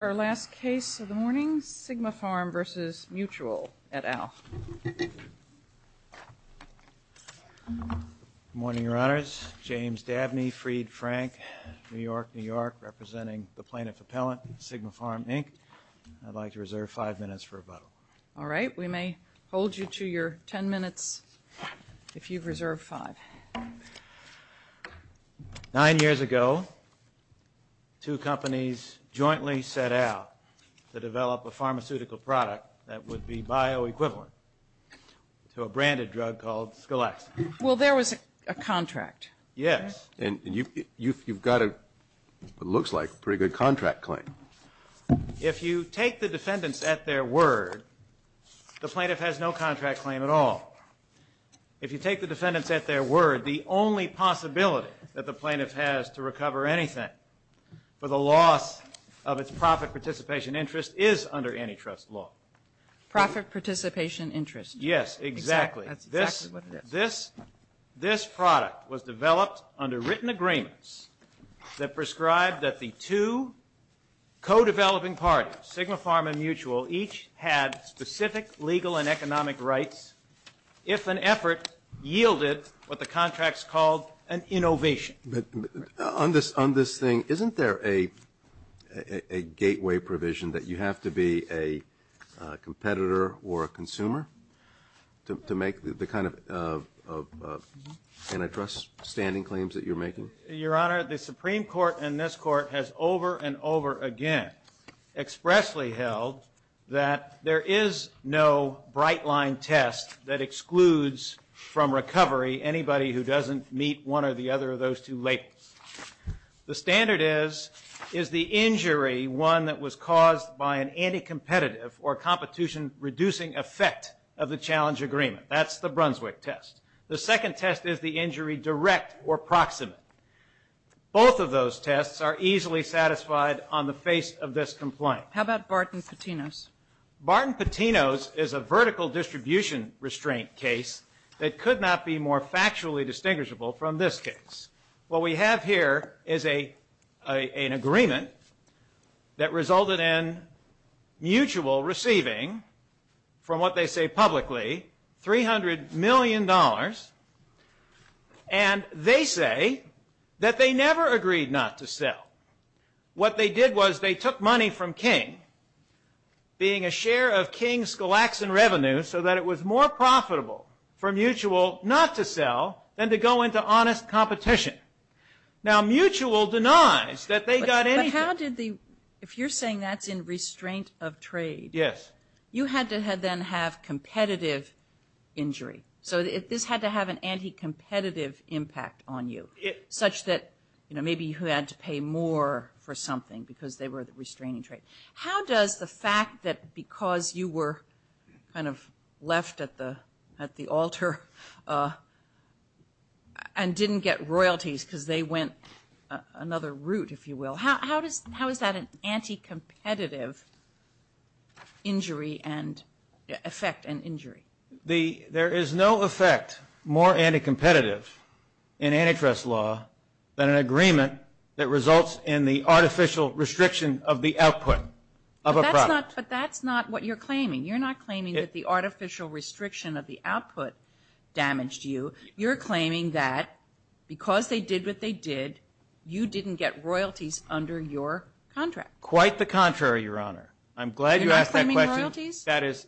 Our last case of the morning, Sigmapharm v. Mutual, et al. Good morning, Your Honors. James Dabney, Fried Frank, New York, New York, representing the plaintiff appellant, Sigmapharm Inc. I'd like to reserve five minutes for rebuttal. All right. We may hold you to your ten minutes if you've reserved five. Nine years ago, two companies jointly set out to develop a pharmaceutical product that would be bioequivalent to a branded drug called Skelex. Well, there was a contract. Yes. And you've got what looks like a pretty good contract claim. If you take the defendants at their word, the plaintiff has no contract claim at all. If you take the defendants at their word, the only possibility that the plaintiff has to recover anything for the loss of its profit participation interest is under antitrust law. Profit participation interest. Yes, exactly. That's exactly what it is. This product was developed under written agreements that prescribed that the two co-developing parties, Sigmapharm and Mutual, each had specific legal and economic rights if an effort yielded what the contracts called an innovation. On this thing, isn't there a gateway provision that you have to be a competitor or a consumer to make the kind of antitrust standing claims that you're making? Your Honor, the Supreme Court and this Court has over and over again expressly held that there is no bright-line test that excludes from recovery anybody who doesn't meet one or the other of those two labels. The standard is, is the injury one that was caused by an anti-competitive or competition-reducing effect of the challenge agreement. That's the Brunswick test. The second test is the injury direct or proximate. Both of those tests are easily satisfied on the face of this complaint. How about Barton Patino's? Barton Patino's is a vertical distribution restraint case that could not be more factually distinguishable from this case. What we have here is an agreement that resulted in Mutual receiving, from what they say publicly, $300 million. And they say that they never agreed not to sell. What they did was they took money from King, being a share of King's Glaxon revenue, so that it was more profitable for Mutual not to sell than to go into honest competition. Now Mutual denies that they got anything. But how did the, if you're saying that's in restraint of trade. Yes. You had to then have competitive injury. So this had to have an anti-competitive impact on you, such that maybe you had to pay more for something because they were the restraining trade. How does the fact that because you were kind of left at the altar and didn't get royalties because they went another route, if you will, how is that an anti-competitive injury and effect and injury? There is no effect more anti-competitive in antitrust law than an agreement that results in the artificial restriction of the output of a product. But that's not what you're claiming. You're not claiming that the artificial restriction of the output damaged you. You're claiming that because they did what they did, you didn't get royalties under your contract. Quite the contrary, Your Honor. You're not claiming royalties? That is,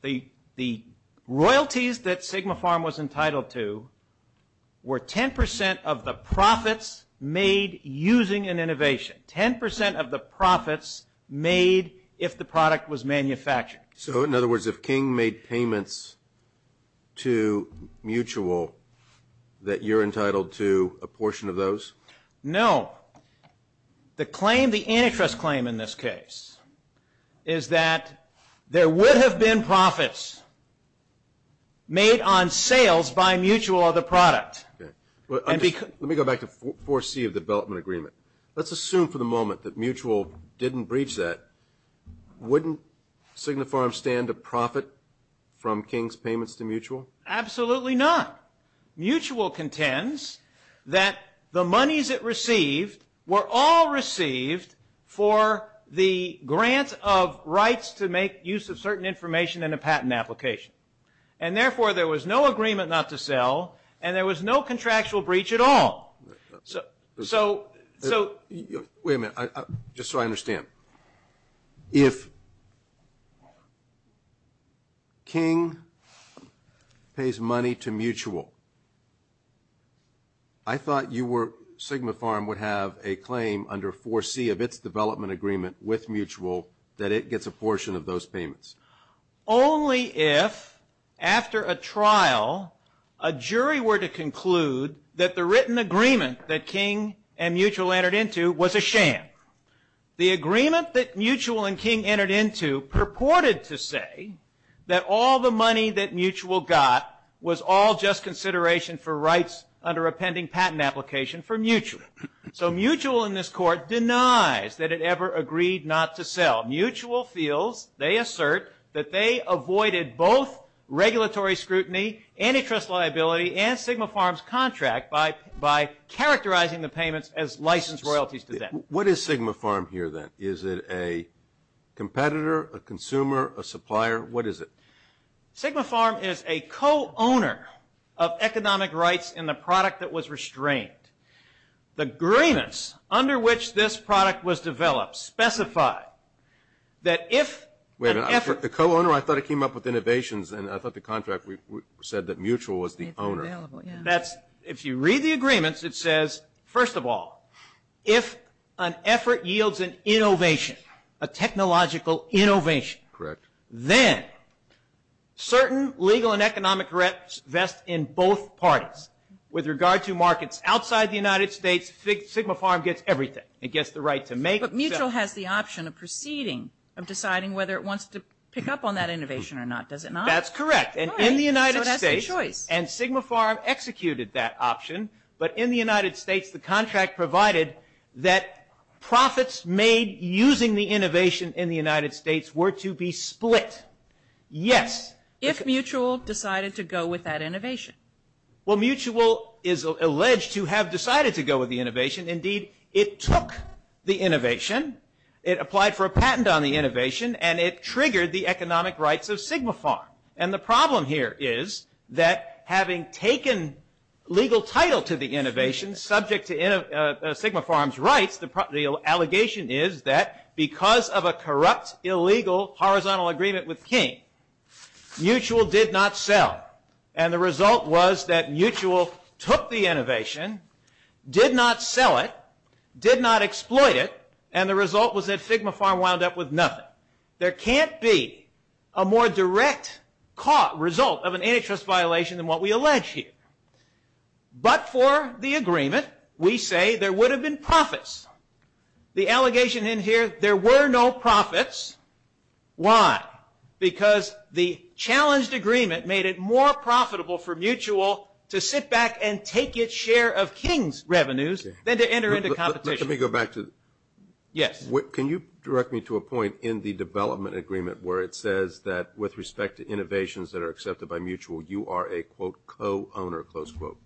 the royalties that Sigma Pharm was entitled to were 10% of the profits made using an innovation. 10% of the profits made if the product was manufactured. So in other words, if King made payments to Mutual, that you're entitled to a portion of those? No. The claim, the antitrust claim in this case, is that there would have been profits made on sales by Mutual of the product. Let me go back to 4C of the development agreement. Let's assume for the moment that Mutual didn't breach that. Wouldn't Sigma Pharm stand to profit from King's payments to Mutual? Absolutely not. Mutual contends that the monies it received were all received for the grant of rights to make use of certain information in a patent application. And therefore, there was no agreement not to sell, and there was no contractual breach at all. Wait a minute, just so I understand. If King pays money to Mutual, I thought Sigma Pharm would have a claim under 4C of its development agreement with Mutual that it gets a portion of those payments. Only if, after a trial, a jury were to conclude that the written agreement that King and Mutual entered into was a sham. The agreement that Mutual and King entered into purported to say that all the money that Mutual got was all just consideration for rights under a pending patent application for Mutual. So Mutual in this court denies that it ever agreed not to sell. While Mutual feels, they assert, that they avoided both regulatory scrutiny, antitrust liability, and Sigma Pharm's contract by characterizing the payments as licensed royalties to them. What is Sigma Pharm here, then? Is it a competitor, a consumer, a supplier? What is it? Sigma Pharm is a co-owner of economic rights in the product that was restrained. The agreements under which this product was developed specify that if an effort... Wait a minute, the co-owner, I thought it came up with innovations, and I thought the contract said that Mutual was the owner. If you read the agreements, it says, first of all, if an effort yields an innovation, a technological innovation... Correct. ...then certain legal and economic risks vest in both parties. With regard to markets outside the United States, Sigma Pharm gets everything. It gets the right to make... But Mutual has the option of proceeding, of deciding whether it wants to pick up on that innovation or not. Does it not? That's correct. And in the United States... So that's the choice. And Sigma Pharm executed that option. But in the United States, the contract provided that profits made using the innovation in the United States were to be split. Yes. If Mutual decided to go with that innovation. Well, Mutual is alleged to have decided to go with the innovation. Indeed, it took the innovation. It applied for a patent on the innovation, and it triggered the economic rights of Sigma Pharm. And the problem here is that having taken legal title to the innovation, subject to Sigma Pharm's rights, the allegation is that because of a corrupt, illegal, horizontal agreement with King, Mutual did not sell. And the result was that Mutual took the innovation, did not sell it, did not exploit it, and the result was that Sigma Pharm wound up with nothing. Now, there can't be a more direct result of an antitrust violation than what we allege here. But for the agreement, we say there would have been profits. The allegation in here, there were no profits. Why? Because the challenged agreement made it more profitable for Mutual to sit back and take its share of King's revenues than to enter into competition. Let me go back to... Yes. Can you direct me to a point in the development agreement where it says that, with respect to innovations that are accepted by Mutual, you are a, quote, co-owner, close quote?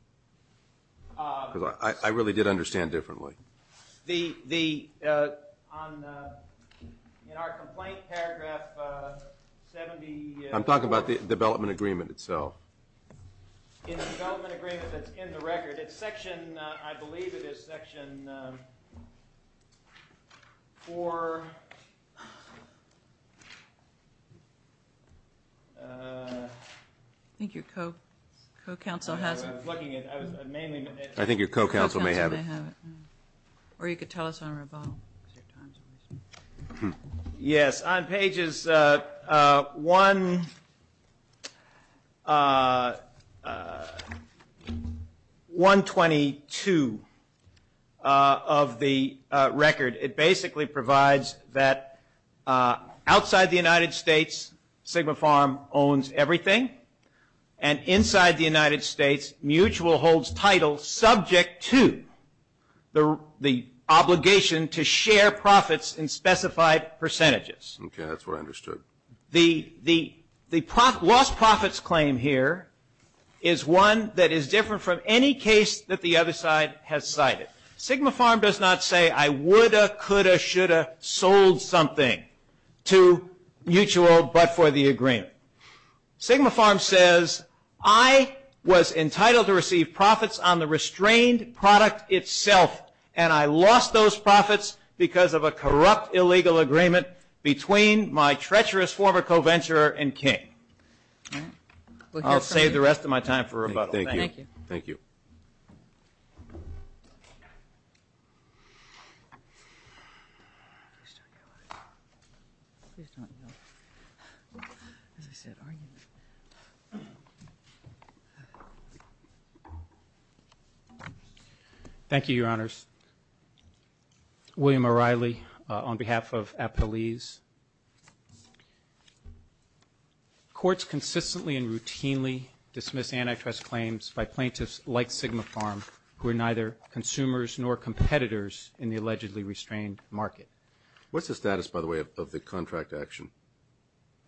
Because I really did understand differently. The, on the, in our complaint, paragraph 70... I'm talking about the development agreement itself. In the development agreement that's in the record, it's section, I believe it is section 4... I think your co-counsel has it. I was looking at it. I was mainly... I think your co-counsel may have it. Or you could tell us on our file. Yes. On pages 122 of the record, it basically provides that outside the United States, Sigma Farm owns everything, and inside the United States, Mutual holds title subject to the obligation to share profits in specified percentages. Okay. That's what I understood. The lost profits claim here is one that is different from any case that the other side has cited. Sigma Farm does not say, I woulda, coulda, shoulda sold something to Mutual but for the agreement. Sigma Farm says, I was entitled to receive profits on the restrained product itself, and I lost those profits because of a corrupt illegal agreement between my treacherous former co-venturer and King. I'll save the rest of my time for rebuttal. Thank you. Thank you. Thank you. Thank you, Your Honors. William O'Reilly on behalf of Appalese. Courts consistently and routinely dismiss antitrust claims by plaintiffs like Sigma Farm who are neither consumers nor competitors in the allegedly restrained market. What's the status, by the way, of the contract action?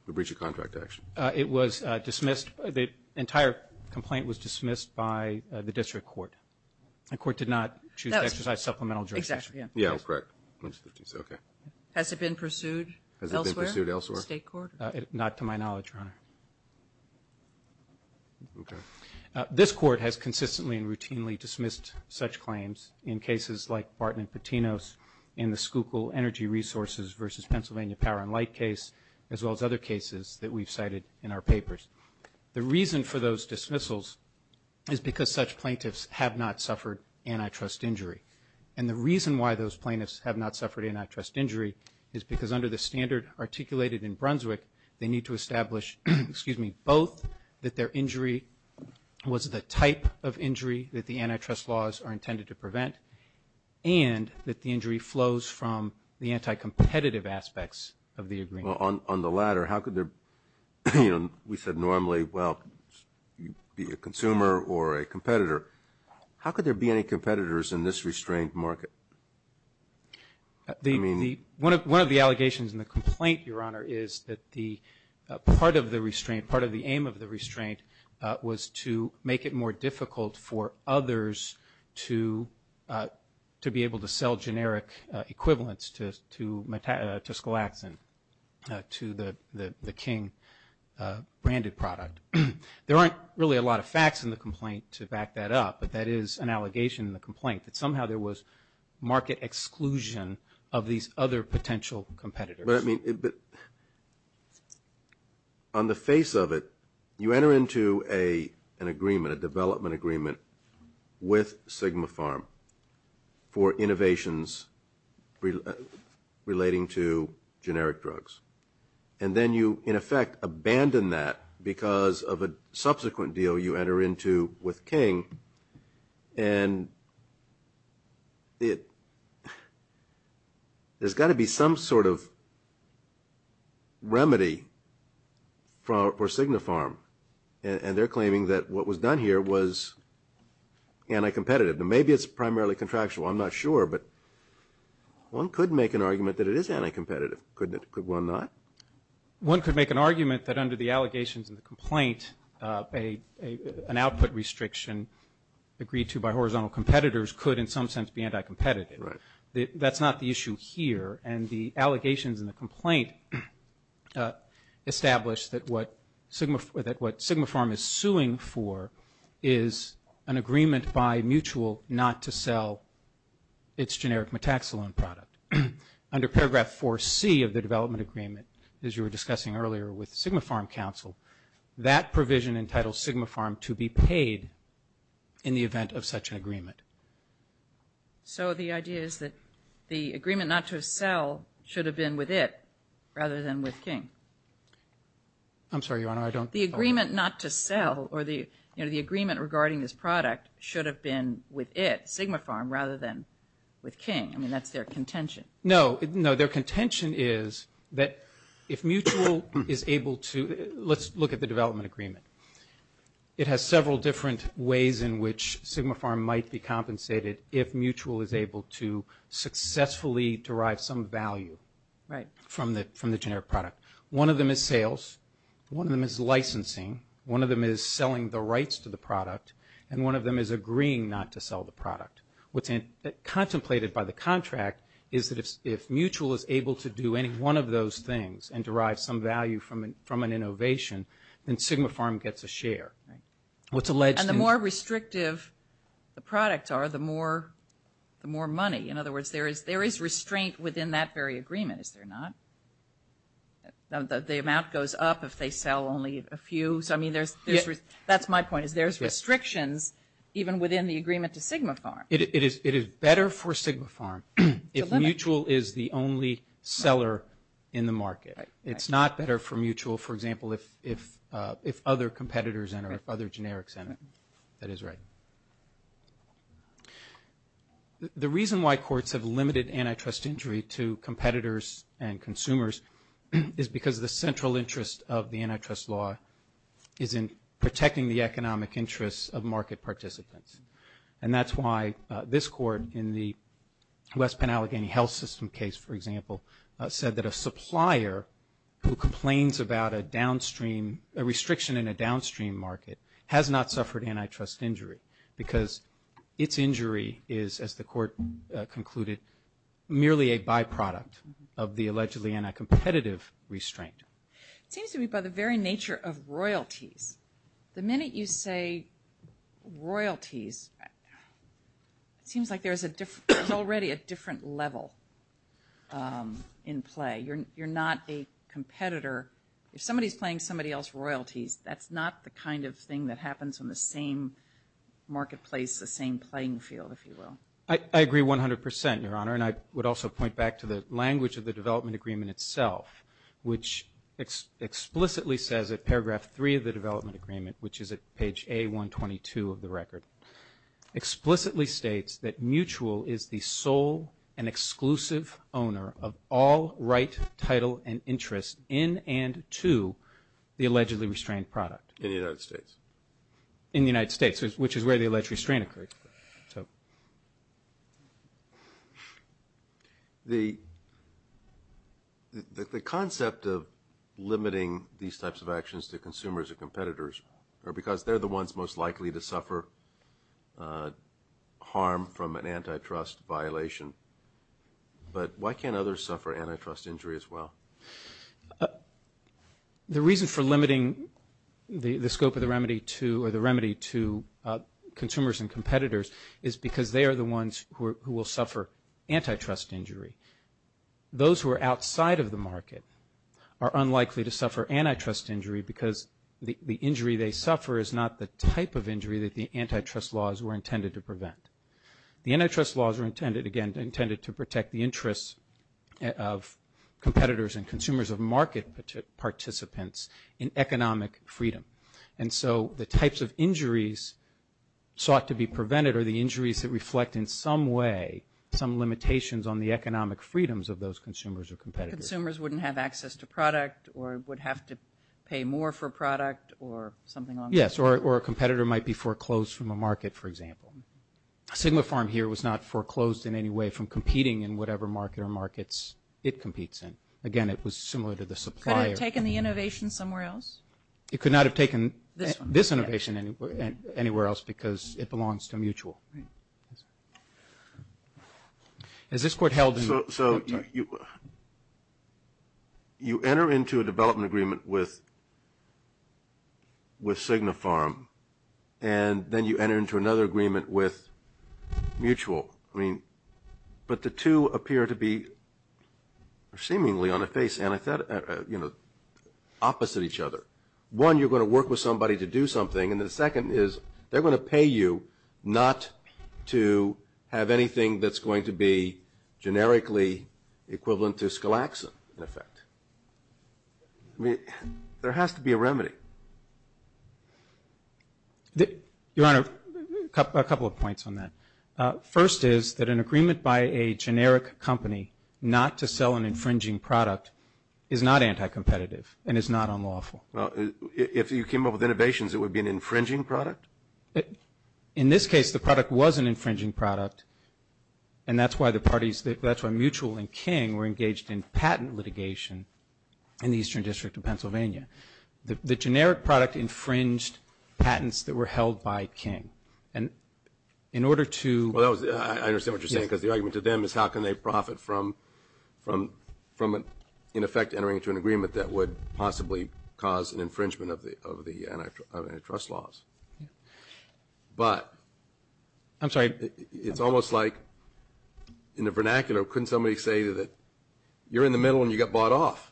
The breach of contract action. It was dismissed. The entire complaint was dismissed by the district court. The court did not choose to exercise supplemental jurisdiction. Exactly. Yeah, correct. Okay. Has it been pursued elsewhere? Has it been pursued elsewhere? State court? Not to my knowledge, Your Honor. Okay. This court has consistently and routinely dismissed such claims in cases like Barton and Patino's and the Schuylkill Energy Resources versus Pennsylvania Power and Light case, as well as other cases that we've cited in our papers. The reason for those dismissals is because such plaintiffs have not suffered antitrust injury. And the reason why those plaintiffs have not suffered antitrust injury is because under the standard articulated in Brunswick, they need to establish both that their injury was the type of injury that the antitrust laws are intended to prevent and that the injury flows from the anti-competitive aspects of the agreement. Well, on the latter, how could there, you know, we said normally, well, be a consumer or a competitor. How could there be any competitors in this restrained market? One of the allegations in the complaint, Your Honor, is that the part of the restraint, part of the aim of the restraint, was to make it more difficult for others to be able to sell generic equivalents to Sklaxin, to the King branded product. There aren't really a lot of facts in the complaint to back that up, but that is an allegation in the complaint, that somehow there was market exclusion of these other potential competitors. But, I mean, on the face of it, you enter into an agreement, a development agreement, with Sigma Pharm for innovations relating to generic drugs. And then you, in effect, abandon that because of a subsequent deal you enter into with King, and there's got to be some sort of remedy for Sigma Pharm, and they're claiming that what was done here was anti-competitive. Now, maybe it's primarily contractual. I'm not sure, but one could make an argument that it is anti-competitive, couldn't it? Could one not? One could make an argument that under the allegations in the complaint, an output restriction agreed to by horizontal competitors could, in some sense, be anti-competitive. That's not the issue here. And the allegations in the complaint establish that what Sigma Pharm is suing for is an agreement by Mutual not to sell its generic Metaxalon product. Under paragraph 4C of the development agreement, as you were discussing earlier with Sigma Pharm counsel, that provision entitles Sigma Pharm to be paid in the event of such an agreement. So the idea is that the agreement not to sell should have been with it rather than with King? I'm sorry, Your Honor, I don't… The agreement not to sell, or the agreement regarding this product, should have been with it, Sigma Pharm, rather than with King. I mean, that's their contention. No, their contention is that if Mutual is able to… Let's look at the development agreement. It has several different ways in which Sigma Pharm might be compensated if Mutual is able to successfully derive some value from the generic product. One of them is sales. One of them is licensing. One of them is selling the rights to the product. And one of them is agreeing not to sell the product. What's contemplated by the contract is that if Mutual is able to do any one of those things and derive some value from an innovation, then Sigma Pharm gets a share. And the more restrictive the products are, the more money. In other words, there is restraint within that very agreement, is there not? The amount goes up if they sell only a few. That's my point, is there's restrictions even within the agreement to Sigma Pharm. It is better for Sigma Pharm if Mutual is the only seller in the market. It's not better for Mutual, for example, if other competitors enter, if other generics enter. That is right. The reason why courts have limited antitrust injury to competitors and consumers is because the central interest of the antitrust law is in protecting the economic interests of market participants. And that's why this court in the West Penn Allegheny Health System case, for example, said that a supplier who complains about a downstream, a restriction in a downstream market, has not suffered antitrust injury because its injury is, as the court concluded, merely a byproduct of the allegedly anti-competitive restraint. It seems to me by the very nature of royalties, the minute you say royalties, it seems like there's already a different level in play. You're not a competitor. If somebody's playing somebody else's royalties, that's not the kind of thing that happens in the same marketplace, the same playing field, if you will. I agree 100%, Your Honor, and I would also point back to the language of the development agreement itself, which explicitly says at paragraph 3 of the development agreement, which is at page A122 of the record, explicitly states that mutual is the sole and exclusive owner of all right, title, and interest in and to the allegedly restrained product. In the United States. In the United States, which is where the alleged restraint occurred. So. The concept of limiting these types of actions to consumers and competitors are because they're the ones most likely to suffer harm from an antitrust violation. But why can't others suffer antitrust injury as well? The reason for limiting the scope of the remedy to consumers and competitors is because they are the ones who will suffer antitrust injury. Those who are outside of the market are unlikely to suffer antitrust injury because the injury they suffer is not the type of injury that the antitrust laws were intended to prevent. The antitrust laws were intended, again, intended to protect the interests of competitors and consumers of market participants in economic freedom. And so the types of injuries sought to be prevented are the injuries that reflect in some way some limitations on the economic freedoms of those consumers or competitors. Consumers wouldn't have access to product or would have to pay more for product or something along those lines. Yes, or a competitor might be foreclosed from a market, for example. Sigma Farm here was not foreclosed in any way from competing in whatever market or markets it competes in. Again, it was similar to the supplier. Could it have taken the innovation somewhere else? It could not have taken this innovation anywhere else because it belongs to Mutual. As this Court held in the... So you enter into a development agreement with Sigma Farm and then you enter into another agreement with Mutual. I mean, but the two appear to be seemingly on a face, you know, opposite each other. One, you're going to work with somebody to do something and the second is they're going to pay you not to have anything that's going to be generically equivalent to skelaxin, in effect. I mean, there has to be a remedy. Your Honor, a couple of points on that. First is that an agreement by a generic company not to sell an infringing product is not anti-competitive and is not unlawful. If you came up with innovations, it would be an infringing product? In this case, the product was an infringing product and that's why Mutual and King were engaged in patent litigation in the Eastern District of Pennsylvania. The generic product infringed patents that were held by King. And in order to... I understand what you're saying because the argument to them is how can they profit from, in effect, entering into an agreement that would possibly cause an infringement of the antitrust laws. But... I'm sorry. It's almost like, in the vernacular, couldn't somebody say that you're in the middle and you got bought off?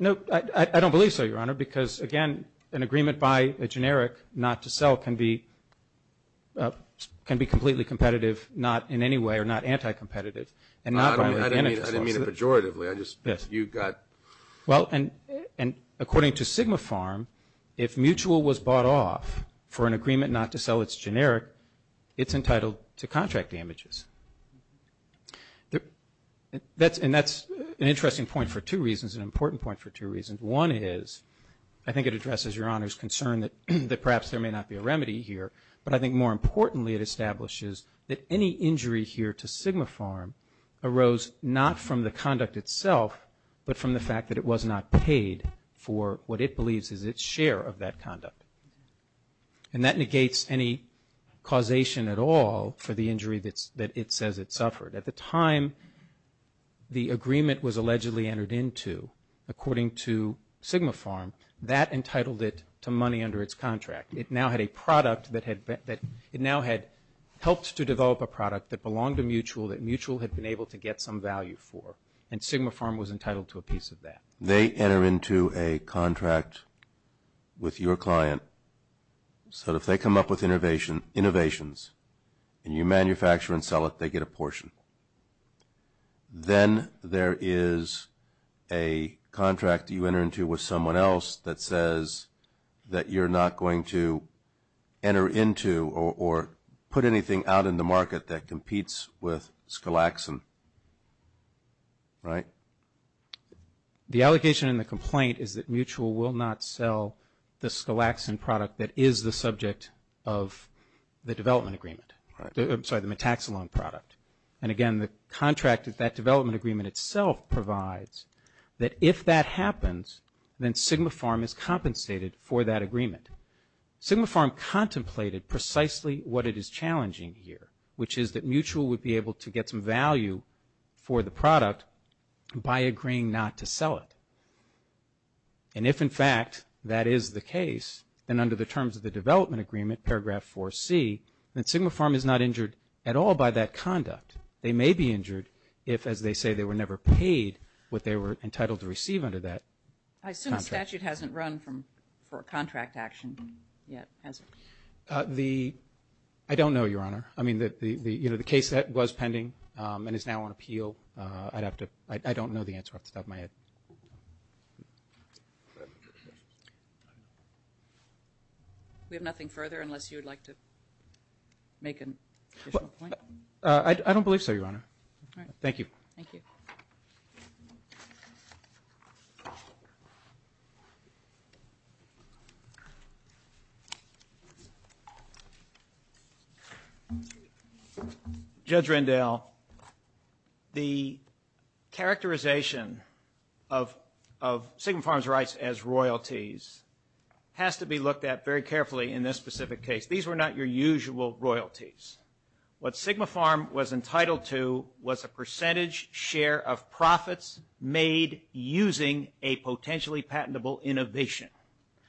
No, I don't believe so, Your Honor, because, again, an agreement by a generic not to sell can be completely competitive not in any way or not anti-competitive. I didn't mean it pejoratively. I just... you got... Well, and according to Sigma Farm, if Mutual was bought off for an agreement not to sell its generic, it's entitled to contract damages. And that's an interesting point for two reasons, an important point for two reasons. One is, I think it addresses Your Honor's concern that perhaps there may not be a remedy here, but I think more importantly it establishes that any injury here to Sigma Farm arose not from the conduct itself but from the fact that it was not paid for what it believes is its share of that conduct. And that negates any causation at all for the injury that it says it suffered. At the time the agreement was allegedly entered into, according to Sigma Farm, that entitled it to money under its contract. It now had a product that had... It now had helped to develop a product that belonged to Mutual that Mutual had been able to get some value for, and Sigma Farm was entitled to a piece of that. They enter into a contract with your client so that if they come up with innovations and you manufacture and sell it, they get a portion. Then there is a contract you enter into with someone else that says that you're not going to enter into or put anything out in the market that competes with Skalaxin, right? The allegation in the complaint is that Mutual will not sell the Skalaxin product that is the subject of the development agreement. I'm sorry, the Metaxalon product. And again, the contract that that development agreement itself provides that if that happens, then Sigma Farm is compensated for that agreement. Sigma Farm contemplated precisely what it is challenging here, which is that Mutual would be able to get some value for the product by agreeing not to sell it. And if, in fact, that is the case, then under the terms of the development agreement, paragraph 4C, then Sigma Farm is not injured at all by that conduct. They may be injured if, as they say, they were never paid what they were entitled to receive under that contract. I assume the statute hasn't run for a contract action yet, has it? I don't know, Your Honor. I mean, the case that was pending and is now on appeal, I don't know the answer off the top of my head. We have nothing further unless you would like to make an additional point? I don't believe so, Your Honor. All right. Thank you. Thank you. Judge Rendell, the characterization of Sigma Farm's rights as royalties has to be looked at very carefully in this specific case. These were not your usual royalties. What Sigma Farm was entitled to was a percentage share of profits made using a potentially patentable innovation.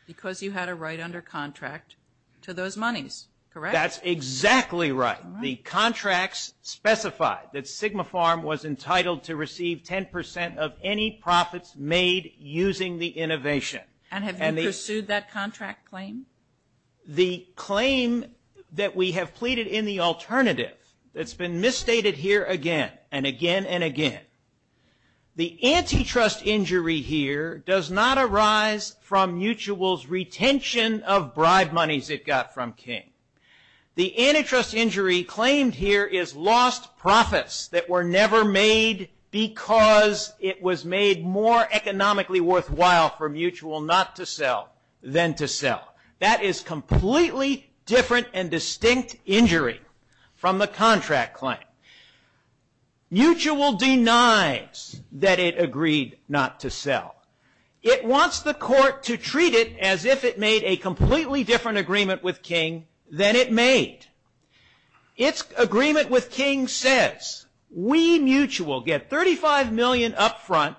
Because you had a right under contract to those monies, correct? That's exactly right. The contracts specified that Sigma Farm was entitled to receive 10% of any profits made using the innovation. And have you pursued that contract claim? The claim that we have pleaded in the alternative that's been misstated here again and again and again. The antitrust injury here does not arise from Mutual's retention of bribe monies it got from King. The antitrust injury claimed here is lost profits that were never made because it was made more economically worthwhile for Mutual not to sell than to sell. That is completely different and distinct injury from the contract claim. Mutual denies that it agreed not to sell. It wants the court to treat it as if it made a completely different agreement with King than it made. Its agreement with King says we, Mutual, get $35 million up front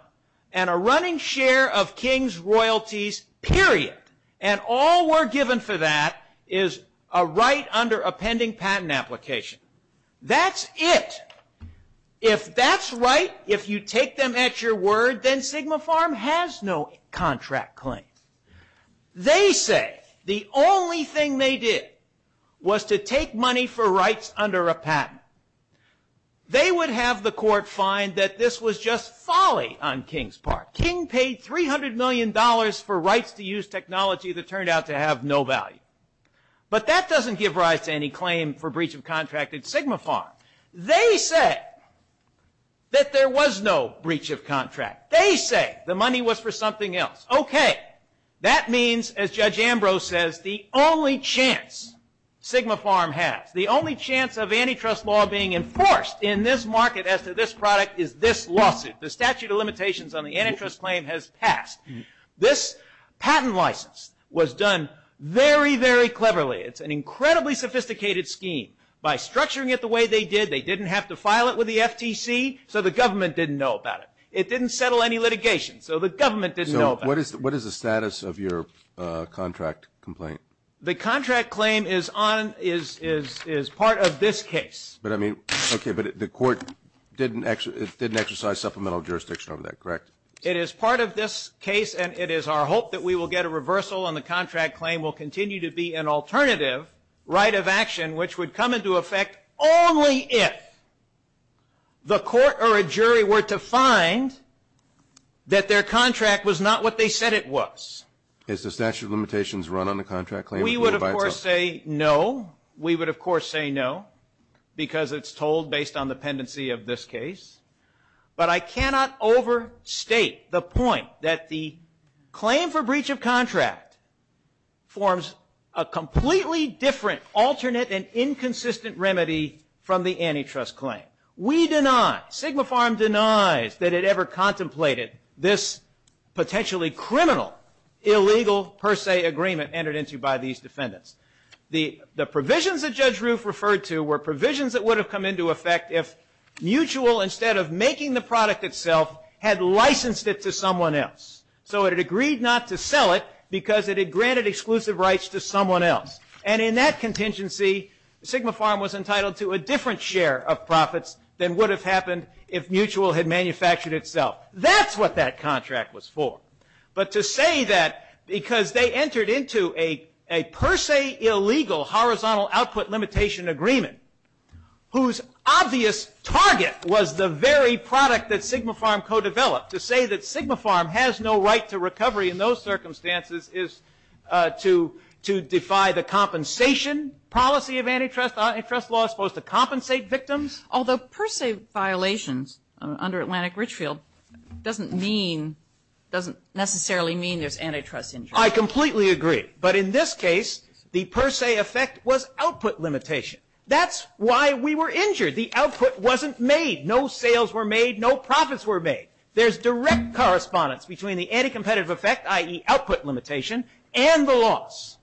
and a running share of King's royalties, period. And all we're given for that is a right under a pending patent application. That's it. If that's right, if you take them at your word, then Sigma Farm has no contract claim. They say the only thing they did was to take money for rights under a patent. They would have the court find that this was just folly on King's part. King paid $300 million for rights to use technology that turned out to have no value. But that doesn't give rise to any claim for breach of contract at Sigma Farm. They said that there was no breach of contract. They say the money was for something else. Okay. That means, as Judge Ambrose says, the only chance Sigma Farm has, the only chance of antitrust law being enforced in this market as to this product is this lawsuit. The statute of limitations on the antitrust claim has passed. This patent license was done very, very cleverly. It's an incredibly sophisticated scheme. By structuring it the way they did, they didn't have to file it with the FTC, so the government didn't know about it. It didn't settle any litigation, so the government didn't know about it. What is the status of your contract complaint? The contract claim is part of this case. But, I mean, okay, but the court didn't exercise supplemental jurisdiction over that, correct? It is part of this case, and it is our hope that we will get a reversal and the contract claim will continue to be an alternative right of action which would come into effect only if the court or a jury were to find that their contract was not what they said it was. Is the statute of limitations run on the contract claim? We would, of course, say no. We would, of course, say no because it's told based on the pendency of this case. But I cannot overstate the point that the claim for breach of contract forms a felony antitrust claim. We deny, Sigma Farm denies that it ever contemplated this potentially criminal illegal per se agreement entered into by these defendants. The provisions that Judge Roof referred to were provisions that would have come into effect if Mutual, instead of making the product itself, had licensed it to someone else. So it had agreed not to sell it because it had granted exclusive rights to someone else. And in that contingency, Sigma Farm was entitled to a different share of profits than would have happened if Mutual had manufactured itself. That's what that contract was for. But to say that because they entered into a per se illegal horizontal output limitation agreement, whose obvious target was the very product that Sigma Farm co-developed, to say that Sigma Farm has no right to recovery in those circumstances is to defy the compensation policy of antitrust. Antitrust law is supposed to compensate victims. Although per se violations under Atlantic Richfield doesn't mean, doesn't necessarily mean there's antitrust interest. I completely agree. But in this case, the per se effect was output limitation. That's why we were injured. The output wasn't made. No sales were made. No profits were made. There's direct correspondence between the anticompetitive effect, i.e. output limitation, and the loss.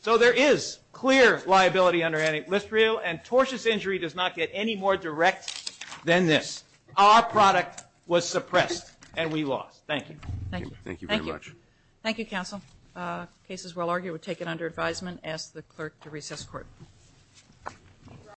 So there is clear liability under antitrust, and tortious injury does not get any more direct than this. Our product was suppressed, and we lost. Thank you. Thank you very much. Thank you, counsel. Cases well argued were taken under advisement. I ask the clerk to recess court.